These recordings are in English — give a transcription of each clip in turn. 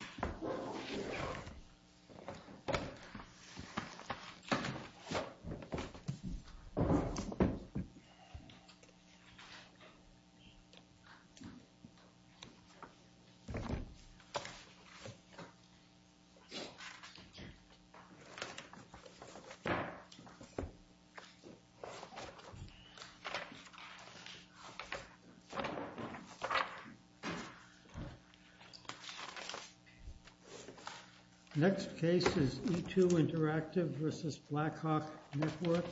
v. Blackhawk Network, Inc. Next case is E2 Interactive v. Blackhawk Network,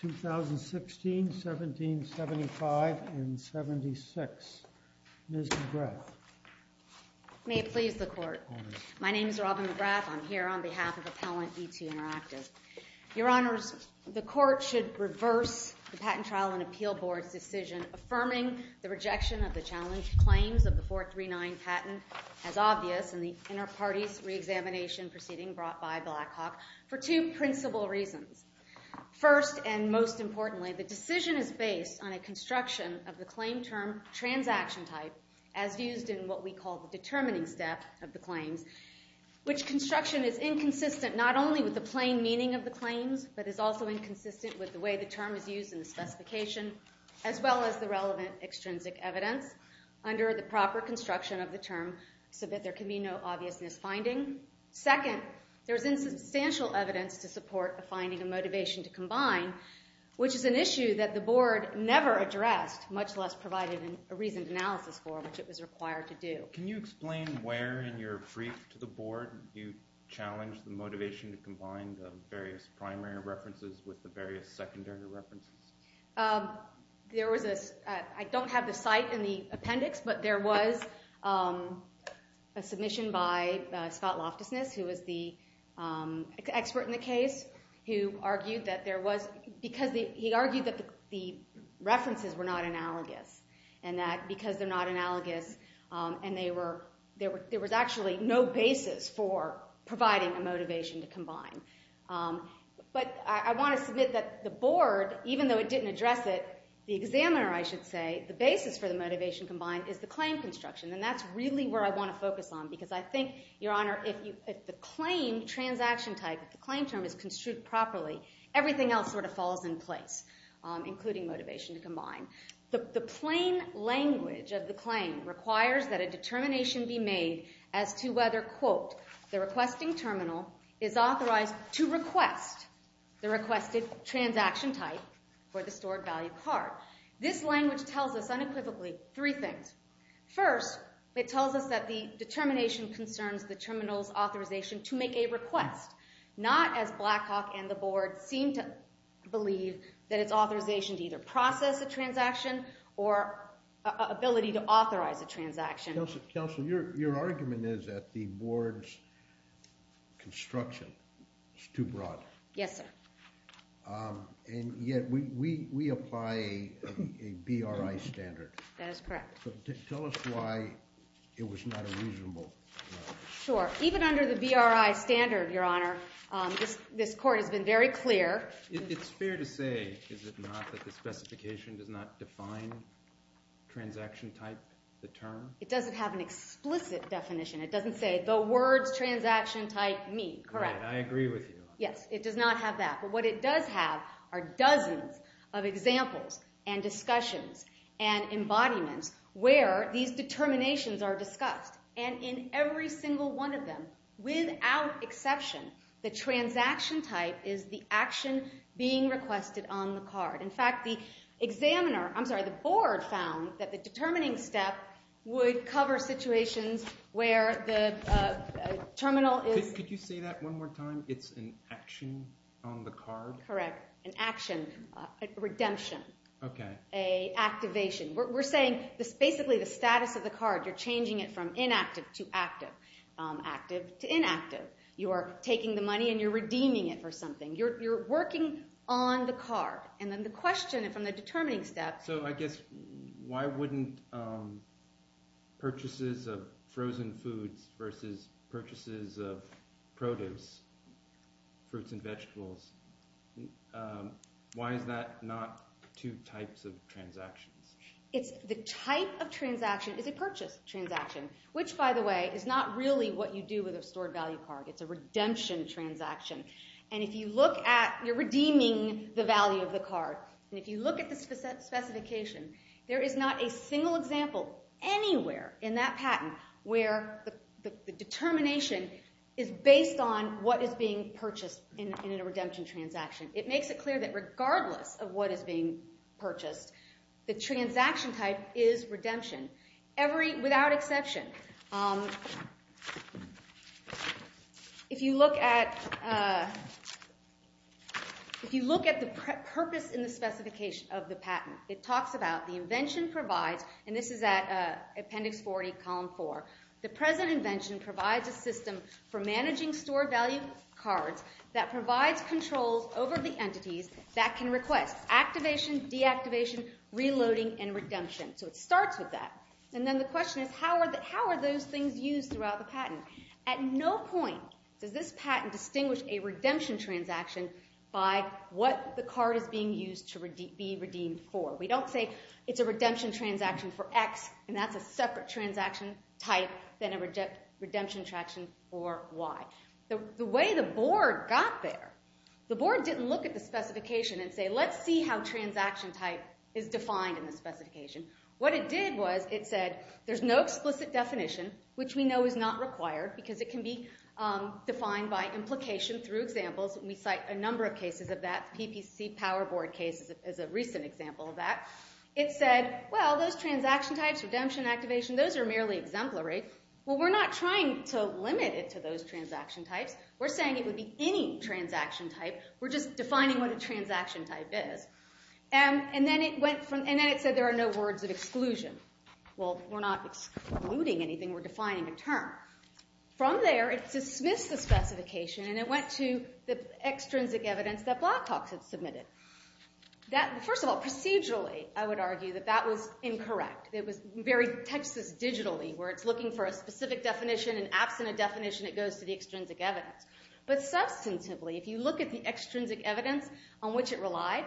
2016, 1775, and 76. Ms. McGrath. May it please the Court. My name is Robin McGrath. I'm here on behalf of Appellant E2 Interactive. Your Honors, the Court should reverse the Patent Trial and Appeal Board's decision affirming the rejection of the challenged claims of the 439 patent as obvious in the Interparties re-examination proceeding brought by Blackhawk for two principal reasons. First, and most importantly, the decision is based on a construction of the claim term transaction type, as used in what we call the determining step of the claims, which construction is inconsistent not only with the plain meaning of the claims, but is also inconsistent with the way the evidence under the proper construction of the term, so that there can be no obvious misfinding. Second, there is insubstantial evidence to support the finding of motivation to combine, which is an issue that the Board never addressed, much less provided a reasoned analysis for, which it was required to do. Can you explain where in your brief to the Board you challenged the motivation to combine the various primary references with the various I don't have the site in the appendix, but there was a submission by Scott Loftusness, who was the expert in the case, who argued that the references were not analogous, and that because they're not analogous, there was actually no basis for providing a motivation to combine. But I want to submit that the Board, even though it didn't address it, the basis for the motivation to combine is the claim construction, and that's really where I want to focus on, because I think, Your Honor, if the claim transaction type, if the claim term is construed properly, everything else sort of falls in place, including motivation to combine. The plain language of the claim requires that a determination be made as to whether, quote, the requesting terminal is authorized to request the requested transaction type for the stored value card. This language tells us unequivocally three things. First, it tells us that the determination concerns the terminal's authorization to make a request, not as Blackhawk and the Board seem to believe that it's authorization to either process a transaction or ability to authorize a transaction. Counselor, your argument is that the Board's construction is too broad. Yes, sir. And yet we apply a BRI standard. That is correct. So tell us why it was not a reasonable. Sure. Even under the BRI standard, Your Honor, this Court has been very clear. It's fair to say, is it not, that the specification does not define transaction type, the term? It doesn't have an explicit definition. It doesn't say the words transaction type meet, correct? Right, I agree with you. Yes, it does not have that. But what it does have are dozens of examples and discussions and embodiments where these determinations are discussed. And in every single one of them, without exception, the transaction type is the action being requested on the card. In fact, the examiner, I'm sorry, the Board found that the determining step would cover situations where the terminal is... Could you say that one more time? It's an action on the card? Correct. An action, a redemption. Okay. A activation. We're saying basically the status of the card, you're changing it from inactive to active, active to inactive. You are taking the money and you're redeeming it for something. You're working on the card. And then the question from the determining step... So I guess why wouldn't purchases of frozen foods versus purchases of produce, fruits and vegetables, why is that not two types of transactions? It's the type of transaction is a purchase transaction, which by the way is not really what you do with a stored value card. It's a redemption transaction. And if you look at, you're redeeming the value of the card. And if you look at the specification, there is not a single example anywhere in that patent where the determination is based on what is being purchased in a redemption transaction. It makes it clear that regardless of what is being purchased, the transaction type is redemption. Without exception. If you look at the purpose in the specification of the patent, it talks about the invention provides, and this is at Appendix 40, Column 4. The present invention provides a system for managing stored value cards that provides controls over the entities that can request activation, deactivation, reloading and redemption. So it starts with that. And then the question is how are those things used throughout the patent? At no point does this patent distinguish a redemption transaction by what the card is being used to be redeemed for. We don't say it's a redemption transaction for X and that's a separate transaction type than a redemption transaction for Y. The way the board didn't look at the specification and say let's see how transaction type is defined in the specification. What it did was it said there's no explicit definition, which we know is not required, because it can be defined by implication through examples. We cite a number of cases of that. PPC PowerBoard case is a recent example of that. It said, well, those transaction types, redemption, activation, those are merely exemplary. Well, we're not trying to limit it to those transaction types. We're saying it would be any transaction type. We're just defining what a transaction type is. And then it said there are no words of exclusion. Well, we're not excluding anything. We're defining a term. From there, it dismissed the specification and it went to the extrinsic evidence that Blackhawks had submitted. First of all, procedurally, I would argue that that was incorrect. It was very Texas digitally where it's looking for a specific definition and absent a definition, it goes to the extrinsic evidence. But substantively, if you look at the extrinsic evidence on which it relied,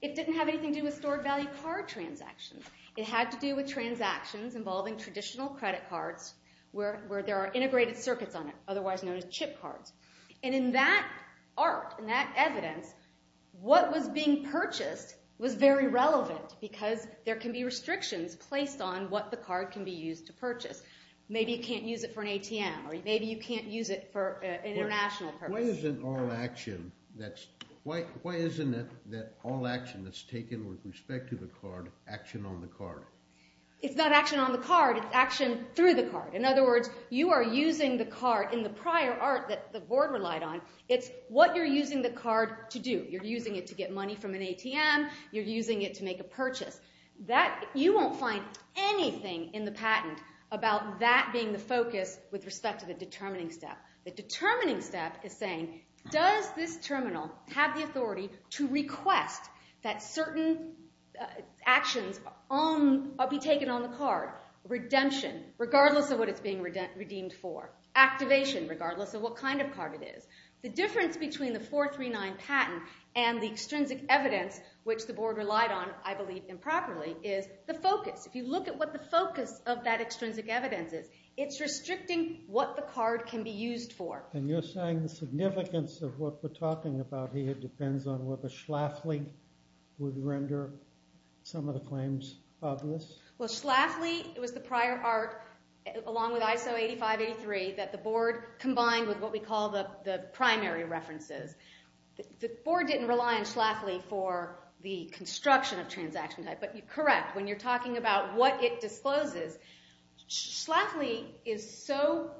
it didn't have anything to do with stored value card transactions. It had to do with transactions involving traditional credit cards where there are integrated circuits on it, otherwise known as chip cards. And in that arc, in that evidence, what was being purchased was very relevant because there can be restrictions placed on what the card can be used to purchase. Maybe you can't use it for an ATM or maybe you can't use it for an international purpose. Why isn't all action that's taken with respect to the card action on the card? It's not action on the card. It's action through the card. In other words, you are using the card in the prior art that the board relied on. It's what you're using the card to do. You're using it to get money from an ATM. You're using it to make a purchase. You won't find anything in the patent about that being the focus with respect to the determining step. The determining step is saying, does this terminal have the authority to request that certain actions be taken on the card? Redemption, regardless of what it's being redeemed for. Activation, regardless of what kind of card it is. The difference between the 439 patent and the extrinsic evidence, which the board relied on, I believe improperly, is the focus. If you look at what the focus of that extrinsic evidence is, it's restricting what the card can be used for. You're saying the significance of what we're talking about here depends on whether Schlafly would render some of the claims obvious? Schlafly was the prior art, along with ISO 8583, that the board combined with what we Schlafly is so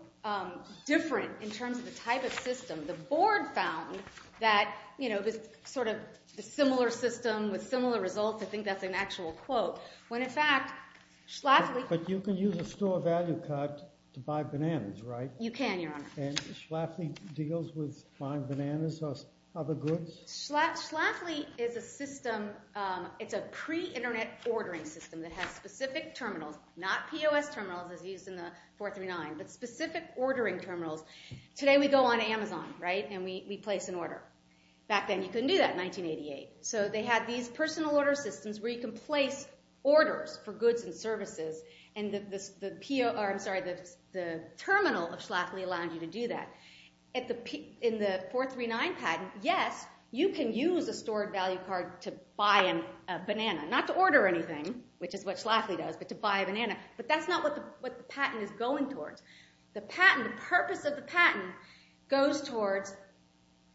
different in terms of the type of system, the board found that this similar system with similar results, I think that's an actual quote, when in fact Schlafly But you can use a store value card to buy bananas, right? You can, Your Honor. And Schlafly deals with buying bananas or other goods? Schlafly is a system, it's a pre-internet ordering system that has specific terminals, not POS terminals as used in the 439, but specific ordering terminals. Today we go on Amazon, right, and we place an order. Back then you couldn't do that in 1988. So they had these personal order systems where you can place orders for goods and services, and the terminal of Schlafly allowed you to do that. In the 439 patent, yes, you can use a store value card to buy a banana, not to order anything, which is what Schlafly does, but to buy a banana. But that's not what the patent is going towards. The purpose of the patent goes towards,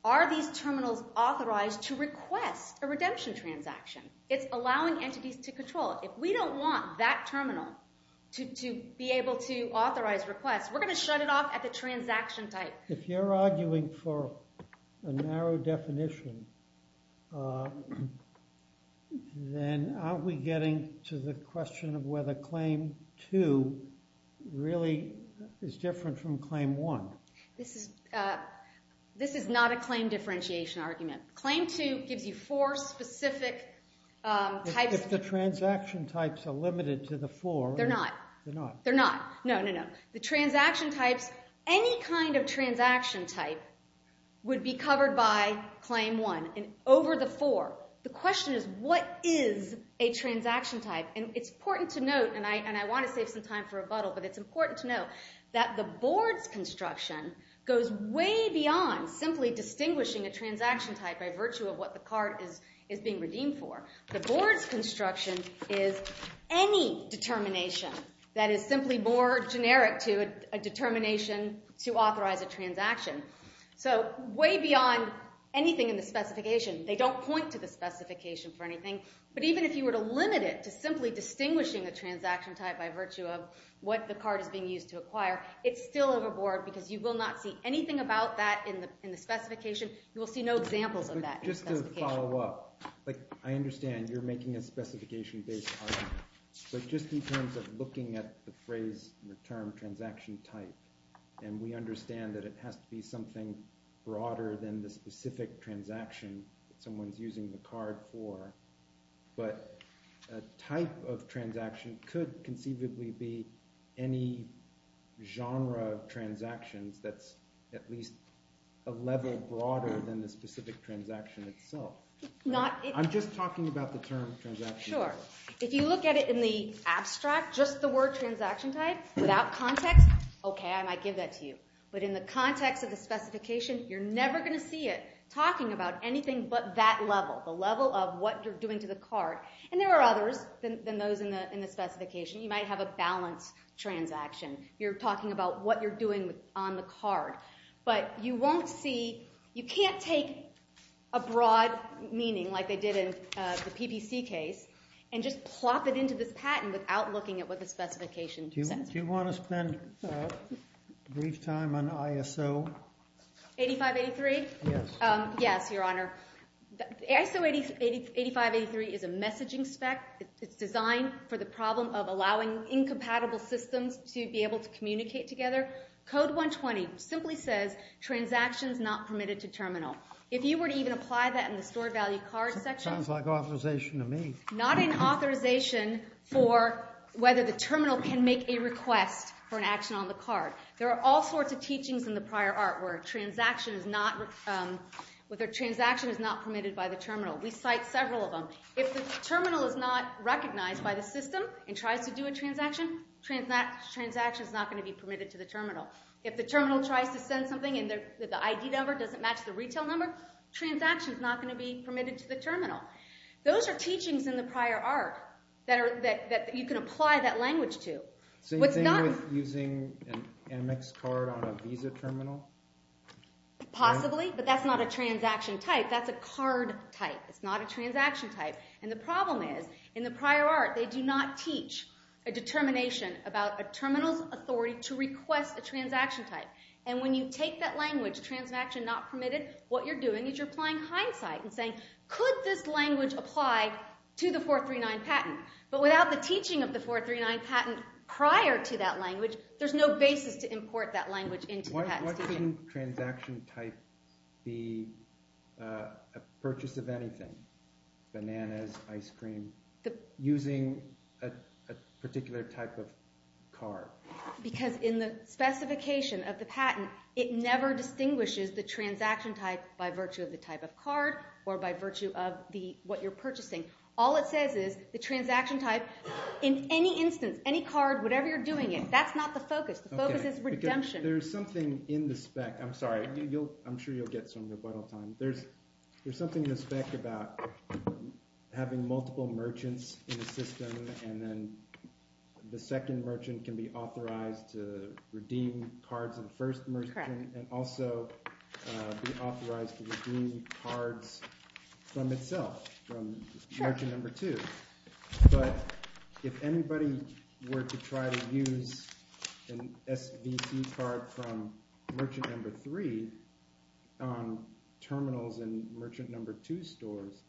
are these terminals authorized to request a redemption transaction? It's allowing entities to control it. If we don't want that terminal to be able to authorize requests, we're going to shut it off at the transaction type. If you're arguing for a narrow definition, then aren't we getting to the question of whether Claim 2 really is different from Claim 1? This is not a claim differentiation argument. Claim 2 gives you four specific types. If the transaction types are limited to the four... They're not. They're not. No, no, no. The transaction types, any kind of transaction type, would be covered by Claim 1 over the four. The question is, what is a transaction type? It's important to note, and I want to save some time for rebuttal, but it's important to note that the board's construction goes way beyond simply distinguishing a transaction type by virtue of what the card is being redeemed for. The board's construction is any determination that is simply more generic to a determination to authorize a transaction. So way beyond anything in the specification. They don't point to the specification for anything. But even if you were to limit it to simply distinguishing a transaction type by virtue of what the card is being used to acquire, it's still overboard because you will not see anything about that in the specification. You will see no examples of that in the specification. I'd like to follow up. I understand you're making a specification-based argument, but just in terms of looking at the phrase, the term, transaction type, and we understand that it has to be something broader than the specific transaction that someone's using the card for, but a type of transaction could conceivably be any genre of transactions that's at least a level broader than the specific transaction itself. I'm just talking about the term transaction type. Sure. If you look at it in the abstract, just the word transaction type, without context, okay, I might give that to you. But in the context of the specification, you're never going to see it talking about anything but that level, the level of what you're doing to the card. And there are others than those in the specification. You might have a balance transaction. You're talking about what you're doing on the card. But you can't take a broad meaning like they did in the PPC case and just plop it into this patent without looking at what the specification says. Do you want to spend a brief time on ISO? 8583? Yes. Yes, Your Honor. ISO 8583 is a messaging spec. It's designed for the problem of allowing incompatible systems to be able to communicate together. Code 120 simply says transactions not permitted to terminal. If you were to even apply that in the stored value card section. Sounds like authorization to me. Not an authorization for whether the terminal can make a request for an action on the card. There are all sorts of teachings in the prior art where a transaction is not permitted by the terminal. We cite several of them. If the terminal is not recognized by the system and tries to do a transaction, transaction is not going to be permitted to the terminal. If the terminal tries to send something and the ID number doesn't match the retail number, transaction is not going to be permitted to the terminal. Those are teachings in the prior art that you can apply that language to. Same thing with using an MX card on a Visa terminal? Possibly, but that's not a transaction type. That's a card type. It's not a transaction type. The problem is, in the prior art, they do not teach a determination about a terminal's authority to request a transaction type. When you take that language, transaction not permitted, what you're doing is you're applying hindsight and saying, could this language apply to the 439 patent? But without the teaching of the 439 patent prior to that language, there's no basis to import that language into the patent statement. Why shouldn't transaction type be a purchase of anything, bananas, ice cream, using a particular type of card? Because in the specification of the patent, it never distinguishes the transaction type by virtue of the type of card or by virtue of what you're purchasing. All it says is the transaction type, in any instance, any card, whatever you're doing it, that's not the focus. The focus is redemption. There's something in the spec – I'm sorry. I'm sure you'll get some rebuttal time. There's something in the spec about having multiple merchants in the system and then the second merchant can be authorized to redeem cards of the first merchant and also be authorized to redeem cards from itself, from merchant number two. But if anybody were to try to use an SVC card from merchant number three on terminals in merchant number two stores,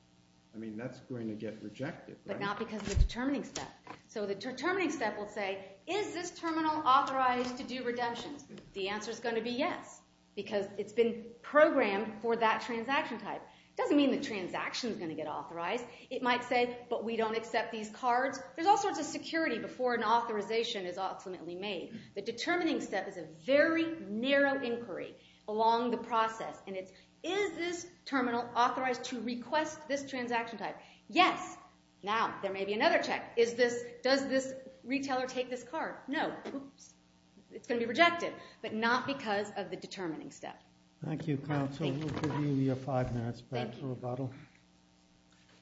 I mean that's going to get rejected, right? But not because of the determining step. So the determining step will say, is this terminal authorized to do redemptions? The answer is going to be yes because it's been programmed for that transaction type. It doesn't mean the transaction is going to get authorized. It might say, but we don't accept these cards. There's all sorts of security before an authorization is ultimately made. The determining step is a very narrow inquiry along the process, and it's, is this terminal authorized to request this transaction type? Yes. Now, there may be another check. Does this retailer take this card? No. Oops. It's going to be rejected, but not because of the determining step. Thank you, counsel. We'll give you your five minutes back for rebuttal.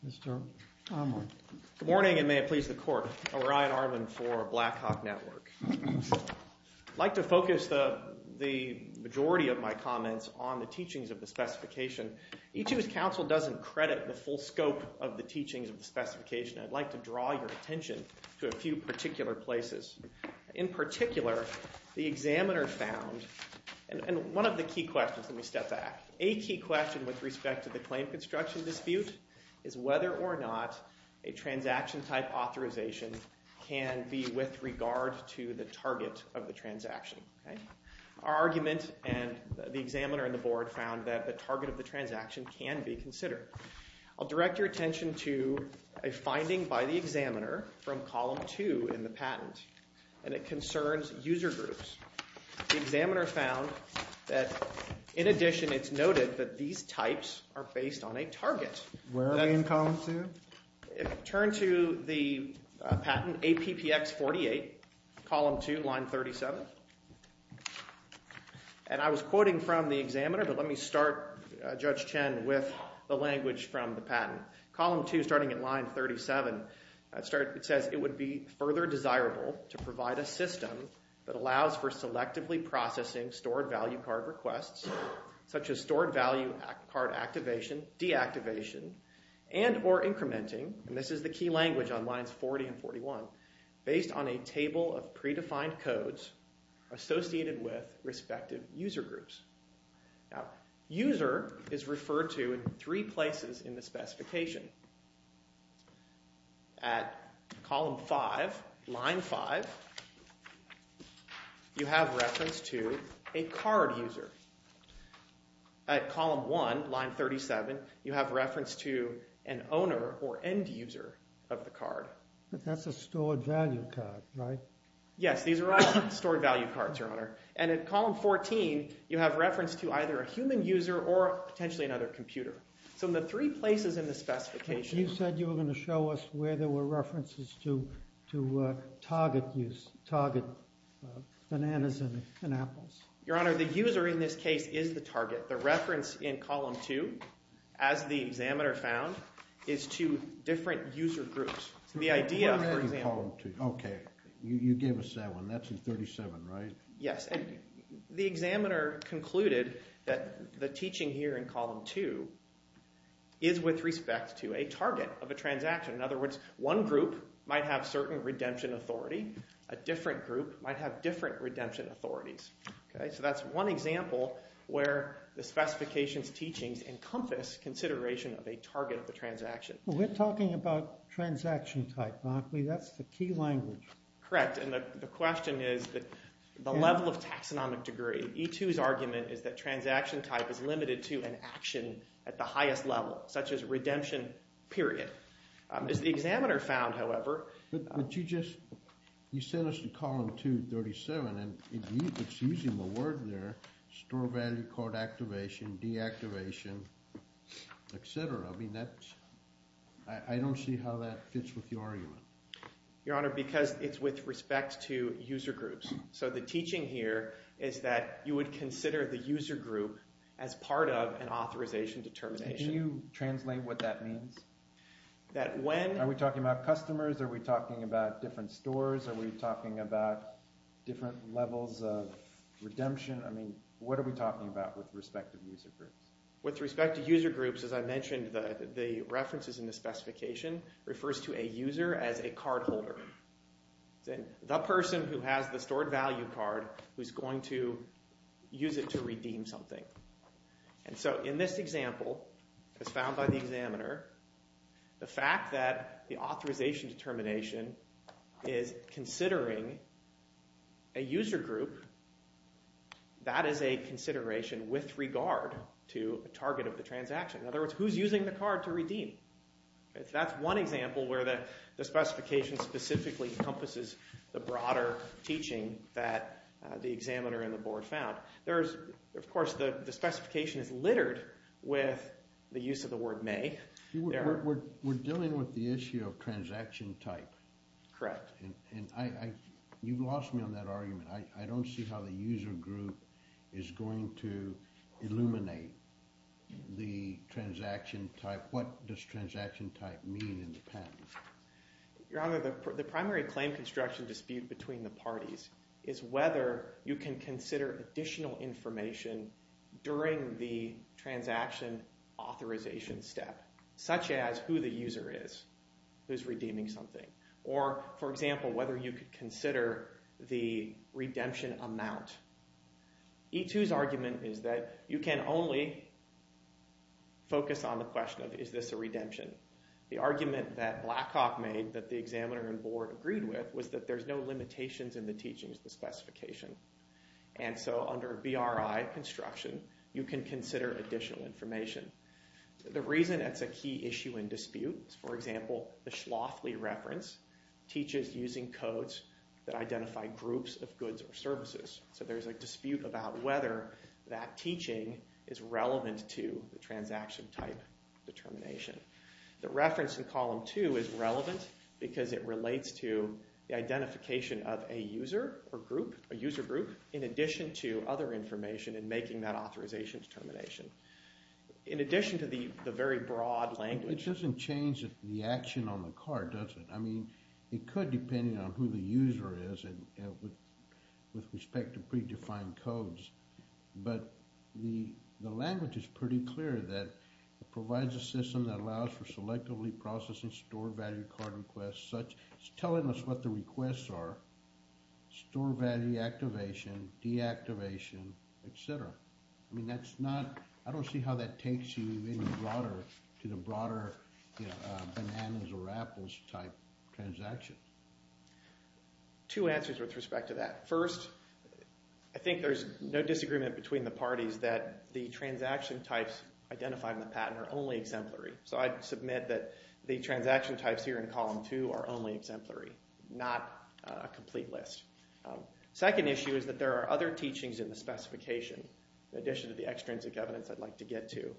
Mr. Armand. Good morning, and may it please the court. Orion Armand for Blackhawk Network. I'd like to focus the majority of my comments on the teachings of the specification. Each of you's counsel doesn't credit the full scope of the teachings of the specification. I'd like to draw your attention to a few particular places. In particular, the examiner found, and one of the key questions, let me step back, a key question with respect to the claim construction dispute is whether or not a transaction type authorization can be with regard to the target of the transaction. Our argument and the examiner and the board found that the target of the transaction can be considered. I'll direct your attention to a finding by the examiner from column two in the patent, and it concerns user groups. The examiner found that, in addition, it's noted that these types are based on a target. Where are we in column two? Turn to the patent, APPX 48, column two, line 37. And I was quoting from the examiner, but let me start, Judge Chen, with the language from the patent. Column two, starting at line 37, it says, it would be further desirable to provide a system that allows for selectively processing stored value card requests, such as stored value card activation, deactivation, and or incrementing, and this is the key language on lines 40 and 41, based on a table of predefined codes associated with respective user groups. Now, user is referred to in three places in the specification. At column five, line five, you have reference to a card user. At column one, line 37, you have reference to an owner or end user of the card. But that's a stored value card, right? Yes, these are all stored value cards, Your Honor. And at column 14, you have reference to either a human user or potentially another computer. So in the three places in the specification... You said you were going to show us where there were references to target use, target bananas and apples. Your Honor, the user in this case is the target. The reference in column two, as the examiner found, is to different user groups. The idea, for example... What about in column two? Okay, you gave us that one. That's in 37, right? Yes. The examiner concluded that the teaching here in column two is with respect to a target of a transaction. In other words, one group might have certain redemption authority. A different group might have different redemption authorities. So that's one example where the specification's teachings encompass consideration of a target of the transaction. We're talking about transaction type, aren't we? That's the key language. Correct. The question is the level of taxonomic degree. E2's argument is that transaction type is limited to an action at the highest level, such as redemption period. As the examiner found, however... But you just sent us to column two, 37, and it's using the word there, store value code activation, deactivation, et cetera. I don't see how that fits with your argument. Your Honor, because it's with respect to user groups. So the teaching here is that you would consider the user group as part of an authorization determination. Can you translate what that means? Are we talking about customers? Are we talking about different stores? Are we talking about different levels of redemption? I mean, what are we talking about with respect to user groups? With respect to user groups, as I mentioned, the references in the specification refers to a user as a cardholder. The person who has the stored value card who's going to use it to redeem something. And so in this example, as found by the examiner, the fact that the authorization determination is considering a user group, that is a consideration with regard to a target of the transaction. In other words, who's using the card to redeem? That's one example where the specification specifically encompasses the broader teaching that the examiner and the board found. Of course, the specification is littered with the use of the word may. We're dealing with the issue of transaction type. Correct. And you've lost me on that argument. I don't see how the user group is going to illuminate the transaction type. What does transaction type mean in the patent? Your Honor, the primary claim construction dispute between the parties is whether you can consider additional information during the transaction authorization step, such as who the user is who's redeeming something. Or, for example, whether you could consider the redemption amount. E2's argument is that you can only focus on the question of is this a redemption. The argument that Blackhawk made that the examiner and board agreed with was that there's no limitations in the teachings of the specification. And so under BRI construction, you can consider additional information. The reason that's a key issue in dispute, for example, the Schlafly reference, teaches using codes that identify groups of goods or services. So there's a dispute about whether that teaching is relevant to the transaction type determination. The reference in column 2 is relevant because it relates to the identification of a user or group, a user group, in addition to other information in making that authorization determination. In addition to the very broad language. It doesn't change the action on the card, does it? I mean, it could depending on who the user is and with respect to predefined codes. But the language is pretty clear that it provides a system that allows for selectively processing store value card requests, such as telling us what the requests are, store value activation, deactivation, et cetera. I mean, that's not, I don't see how that takes you any broader to the broader bananas or apples type transactions. Two answers with respect to that. First, I think there's no disagreement between the parties that the transaction types identified in the patent are only exemplary. So I'd submit that the transaction types here in column 2 are only exemplary, not a complete list. Second issue is that there are other teachings in the specification, in addition to the extrinsic evidence I'd like to get to,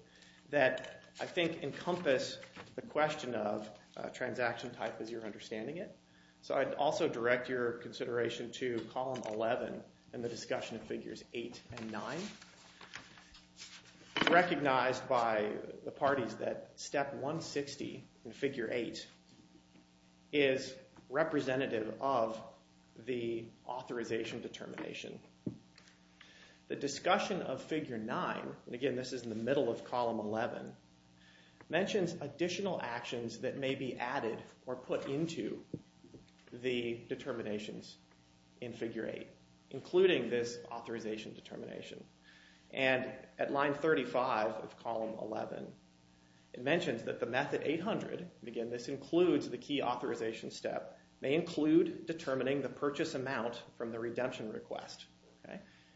that I think encompass the question of transaction type as you're understanding it. So I'd also direct your consideration to column 11 and the discussion of figures 8 and 9. Recognized by the parties that step 160 in figure 8 is representative of the authorization determination. The discussion of figure 9, and again this is in the middle of column 11, mentions additional actions that may be added or put into the determinations in figure 8, including this authorization determination. And at line 35 of column 11, it mentions that the method 800, and again this includes the key authorization step, may include determining the purchase amount from the redemption request.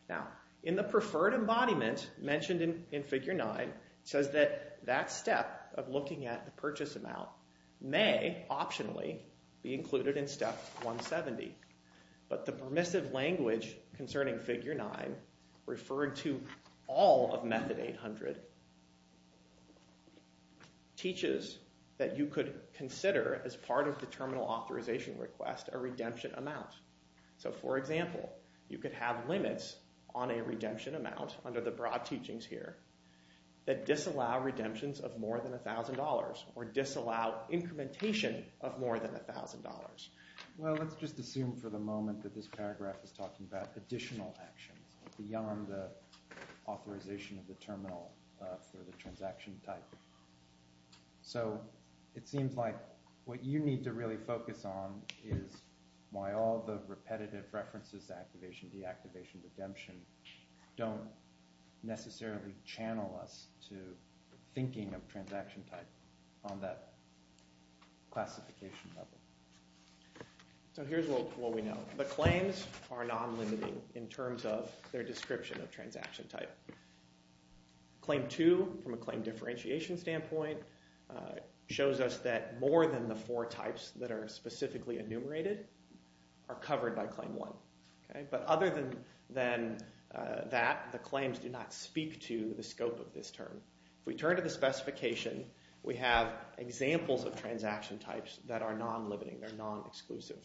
Now, in the preferred embodiment mentioned in figure 9, it says that that step of looking at the purchase amount may optionally be included in step 170. But the permissive language concerning figure 9, referred to all of method 800, teaches that you could consider, as part of the terminal authorization request, a redemption amount. So, for example, you could have limits on a redemption amount, under the broad teachings here, that disallow redemptions of more than $1,000 or disallow incrementation of more than $1,000. Well, let's just assume for the moment that this paragraph is talking about additional actions beyond the authorization of the terminal for the transaction type. So, it seems like what you need to really focus on is why all the repetitive references to activation, deactivation, redemption don't necessarily channel us to thinking of transaction type on that classification level. So, here's what we know. The claims are non-limiting in terms of their description of transaction type. Claim 2, from a claim differentiation standpoint, shows us that more than the four types that are specifically enumerated are covered by claim 1. But other than that, the claims do not speak to the scope of this term. If we turn to the specification, we have examples of transaction types that are non-limiting, that are non-exclusive.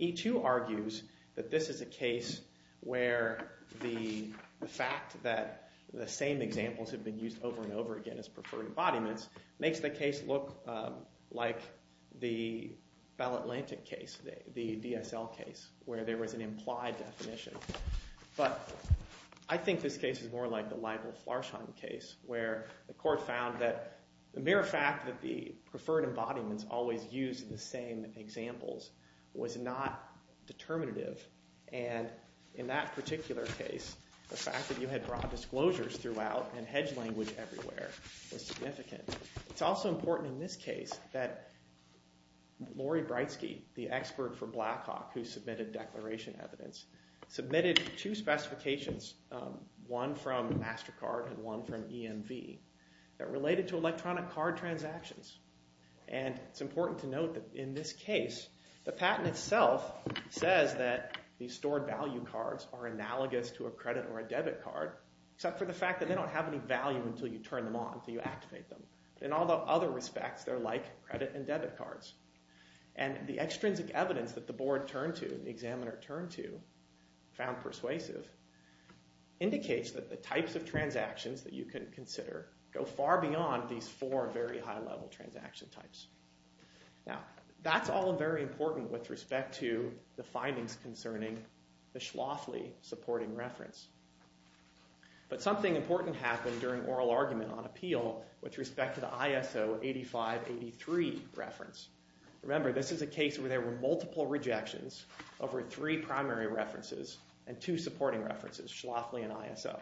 E2 argues that this is a case where the fact that the same examples have been used over and over again as preferred embodiments makes the case look like the Bell Atlantic case, the DSL case, where there was an implied definition. But I think this case is more like the Ligel-Flarsheim case, where the court found that the mere fact that the preferred embodiments always used the same examples was not determinative. And in that particular case, the fact that you had broad disclosures throughout and hedge language everywhere was significant. It's also important in this case that Laurie Breitsky, the expert for Blackhawk who submitted declaration evidence, submitted two specifications, one from MasterCard and one from EMV, that related to electronic card transactions. And it's important to note that in this case, the patent itself says that these stored value cards are analogous to a credit or a debit card, except for the fact that they don't have any value until you turn them on, until you activate them. In all the other respects, they're like credit and debit cards. And the extrinsic evidence that the board turned to, the examiner turned to, found persuasive, indicates that the types of transactions that you can consider go far beyond these four very high-level transaction types. Now, that's all very important with respect to the findings concerning the Schlafly supporting reference. But something important happened during oral argument on appeal with respect to the ISO 8583 reference. Remember, this is a case where there were multiple rejections over three primary references and two supporting references, Schlafly and ISO.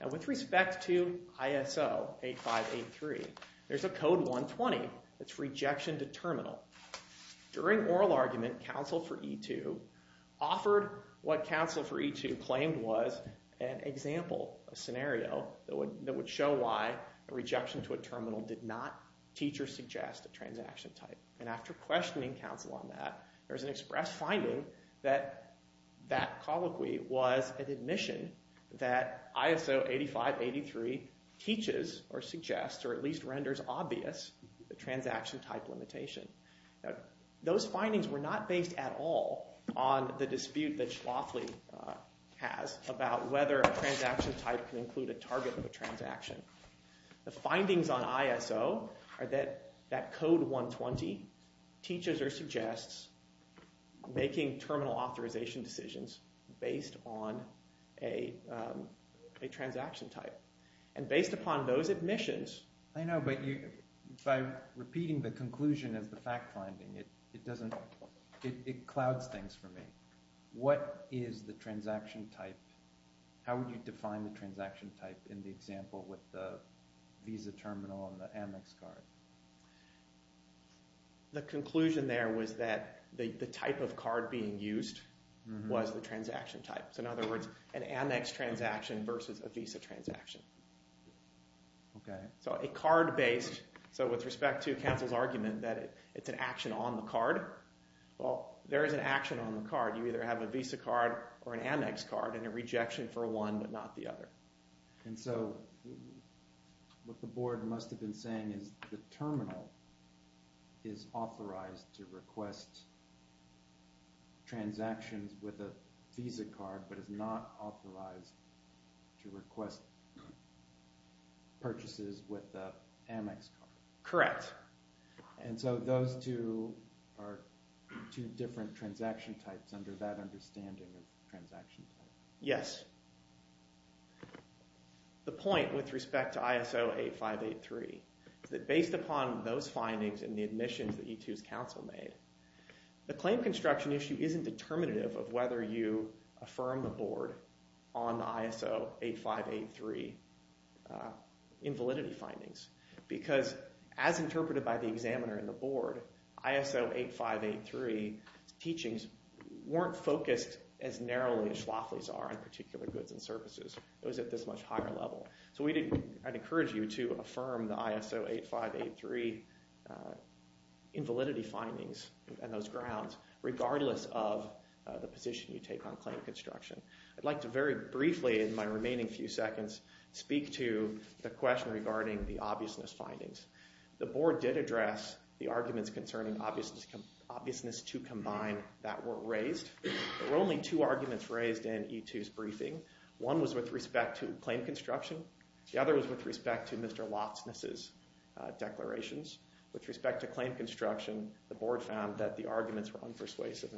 And with respect to ISO 8583, there's a Code 120, it's rejection to terminal. During oral argument, counsel for E2 offered what counsel for E2 claimed was an example, a scenario, that would show why a rejection to a terminal did not teach or suggest a transaction type. And after questioning counsel on that, there was an express finding that that colloquy was an admission that ISO 8583 teaches or suggests, or at least renders obvious, a transaction type limitation. Now, those findings were not based at all on the dispute that Schlafly has about whether a transaction type can include a target of a transaction. The findings on ISO are that that Code 120 teaches or suggests making terminal authorization decisions based on a transaction type. And based upon those admissions... I know, but by repeating the conclusion as the fact finding, it clouds things for me. What is the transaction type? How would you define the transaction type in the example with the Visa terminal and the Amex card? The conclusion there was that the type of card being used was the transaction type. So in other words, an Amex transaction versus a Visa transaction. So a card-based... So with respect to counsel's argument that it's an action on the card, well, there is an action on the card. You either have a Visa card or an Amex card and a rejection for one but not the other. And so what the board must have been saying is the terminal is authorized to request transactions with a Visa card but is not authorized to request purchases with an Amex card. Correct. And so those two are two different transaction types under that understanding of transaction type. Yes. The point with respect to ISO 8583 is that based upon those findings and the admissions that E2's counsel made, the claim construction issue isn't determinative of whether you affirm the board on the ISO 8583 invalidity findings because as interpreted by the examiner in the board, ISO 8583 teachings weren't focused as narrowly as Schlafly's are on particular goods and services. It was at this much higher level. So I'd encourage you to affirm the ISO 8583 invalidity findings and those grounds regardless of the position you take on claim construction. I'd like to very briefly in my remaining few seconds speak to the question regarding the obviousness findings. The board did address the arguments concerning obviousness to combine that were raised. There were only two arguments raised in E2's briefing. One was with respect to claim construction. The other was with respect to Mr. Loftusness's declarations. With respect to claim construction, the board found that the arguments were unpersuasive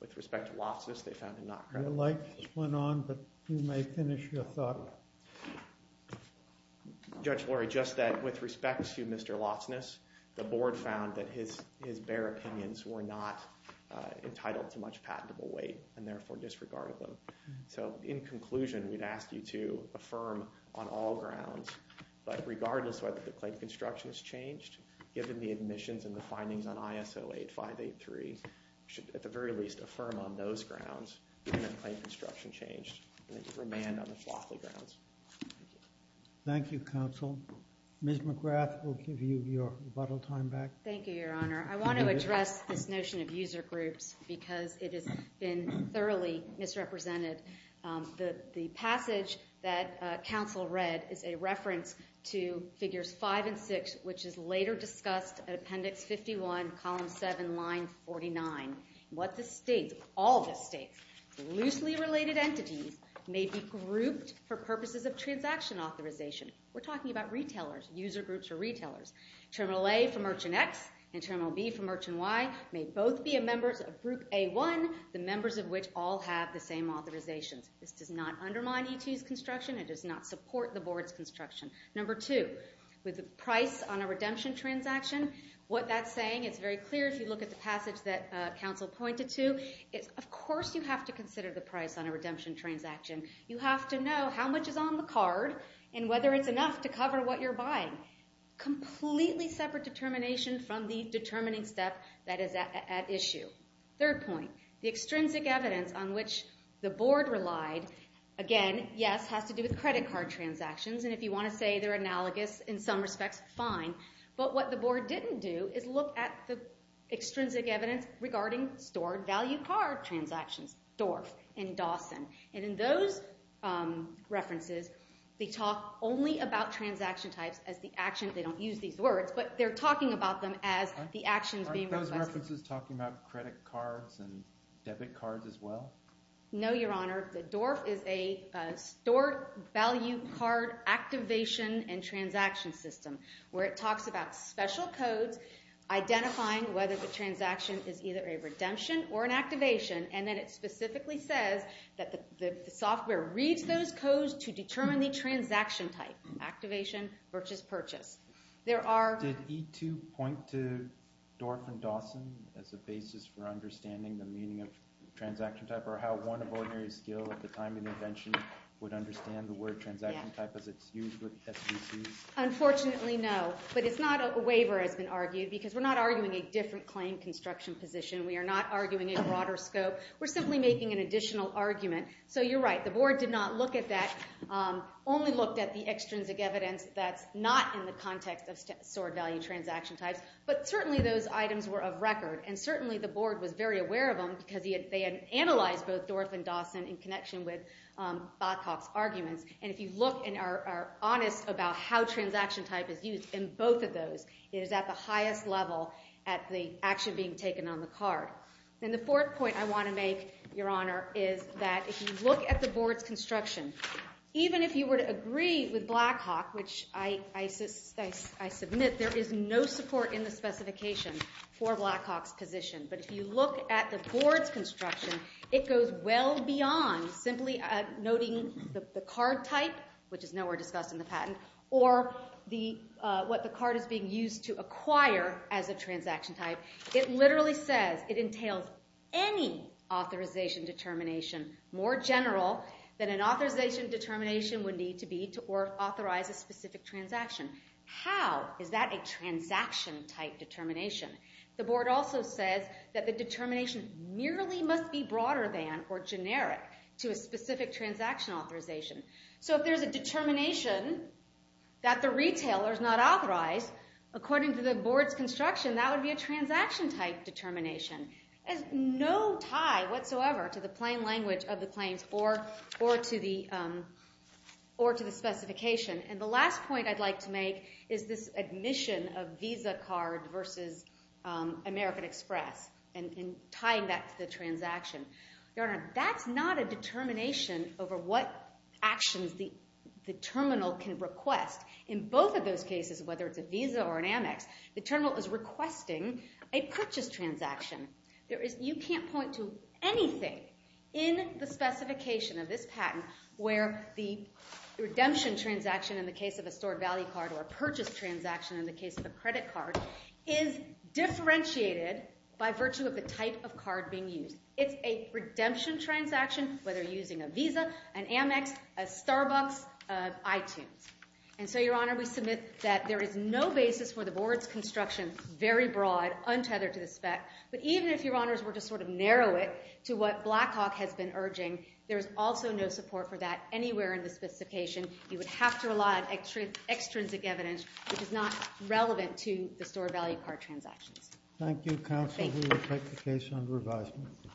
With respect to Loftusness, they found them not credible. The lights went on, but you may finish your thought. Judge Lorry, just that with respect to Mr. Loftusness, the board found that his bare opinions were not entitled to much patentable weight and therefore disregarded them. So in conclusion, we'd ask you to affirm on all grounds that regardless of whether the claim construction has changed given the admissions and the findings on ISO 8583, we should at the very least affirm on those grounds that the claim construction changed and that you remand on the Flockley grounds. Thank you. Thank you, counsel. Ms. McGrath will give you your rebuttal time back. Thank you, Your Honor. I want to address this notion of user groups because it has been thoroughly misrepresented. The passage that counsel read is a reference to Figures 5 and 6, which is later discussed at Appendix 51, Column 7, Line 49. What this states, all this states, loosely related entities may be grouped for purposes of transaction authorization. We're talking about retailers, user groups for retailers. Terminal A for Merchant X and Terminal B for Merchant Y may both be members of Group A1, the members of which all have the same authorizations. This does not undermine E2's construction. It does not support the board's construction. Number two, with the price on a redemption transaction, what that's saying, it's very clear if you look at the passage that counsel pointed to. Of course you have to consider the price on a redemption transaction. You have to know how much is on the card and whether it's enough to cover what you're buying. Completely separate determination from the determining step that is at issue. Third point, the extrinsic evidence on which the board relied, again, yes, has to do with credit card transactions. And if you want to say they're analogous in some respects, fine. But what the board didn't do is look at the extrinsic evidence regarding stored value card transactions, DORF and Dawson. And in those references, they talk only about transaction types as the action. They don't use these words. But they're talking about them as the actions being requested. Aren't those references talking about credit cards and debit cards as well? No, Your Honor. The DORF is a stored value card activation and transaction system, where it talks about special codes identifying whether the transaction is either a redemption or an activation. And then it specifically says that the software reads those codes to determine the transaction type, activation versus purchase. Did E2 point to DORF and Dawson as a basis for understanding the meaning of transaction type or how one of ordinary skill at the time of the invention would understand the word transaction type as it's used with SBCs? Unfortunately, no. But it's not a waiver, has been argued, because we're not arguing a different claim construction position. We are not arguing a broader scope. We're simply making an additional argument. So you're right. The board did not look at that, only looked at the extrinsic evidence that's not in the context of stored value transaction types. But certainly, those items were of record. And certainly, the board was very aware of them because they had analyzed both DORF and Dawson in connection with Blackhawk's arguments. And if you look and are honest about how transaction type is used in both of those, it is at the highest level at the action being taken on the card. And the fourth point I want to make, Your Honor, is that if you look at the board's construction, even if you were to agree with Blackhawk, which I submit there is no support in the specification for Blackhawk's position. But if you look at the board's construction, it goes well beyond simply noting the card type, which is nowhere discussed in the patent, or what the card is being used to acquire as a transaction type. It literally says it entails any authorization determination more general than an authorization determination would need to be to authorize a specific transaction. How is that a transaction type determination? The board also says that the determination merely must be broader than or generic to a specific transaction authorization. So if there's a determination that the retailer is not authorized, according to the board's construction, that would be a transaction type determination. There's no tie whatsoever to the plain language of the claims or to the specification. And the last point I'd like to make is this admission of Visa card versus American Express and tying that to the transaction. Your Honor, that's not a determination over what actions the terminal can request. In both of those cases, whether it's a Visa or an Amex, the terminal is requesting a purchase transaction. You can't point to anything in the specification of this patent where the redemption transaction in the case of a stored value card or a purchase transaction in the case of a credit card is differentiated by virtue of the type of card being used. It's a redemption transaction, whether using a Visa, an Amex, a Starbucks, iTunes. And so, Your Honor, we submit that there is no basis for the board's construction, very broad, untethered to the spec. But even if Your Honors were to sort of narrow it to what Blackhawk has been urging, there is also no support for that anywhere in the specification. You would have to rely on extrinsic evidence, which is not relevant to the stored value card transactions. Thank you, counsel. We will take the case under advisement.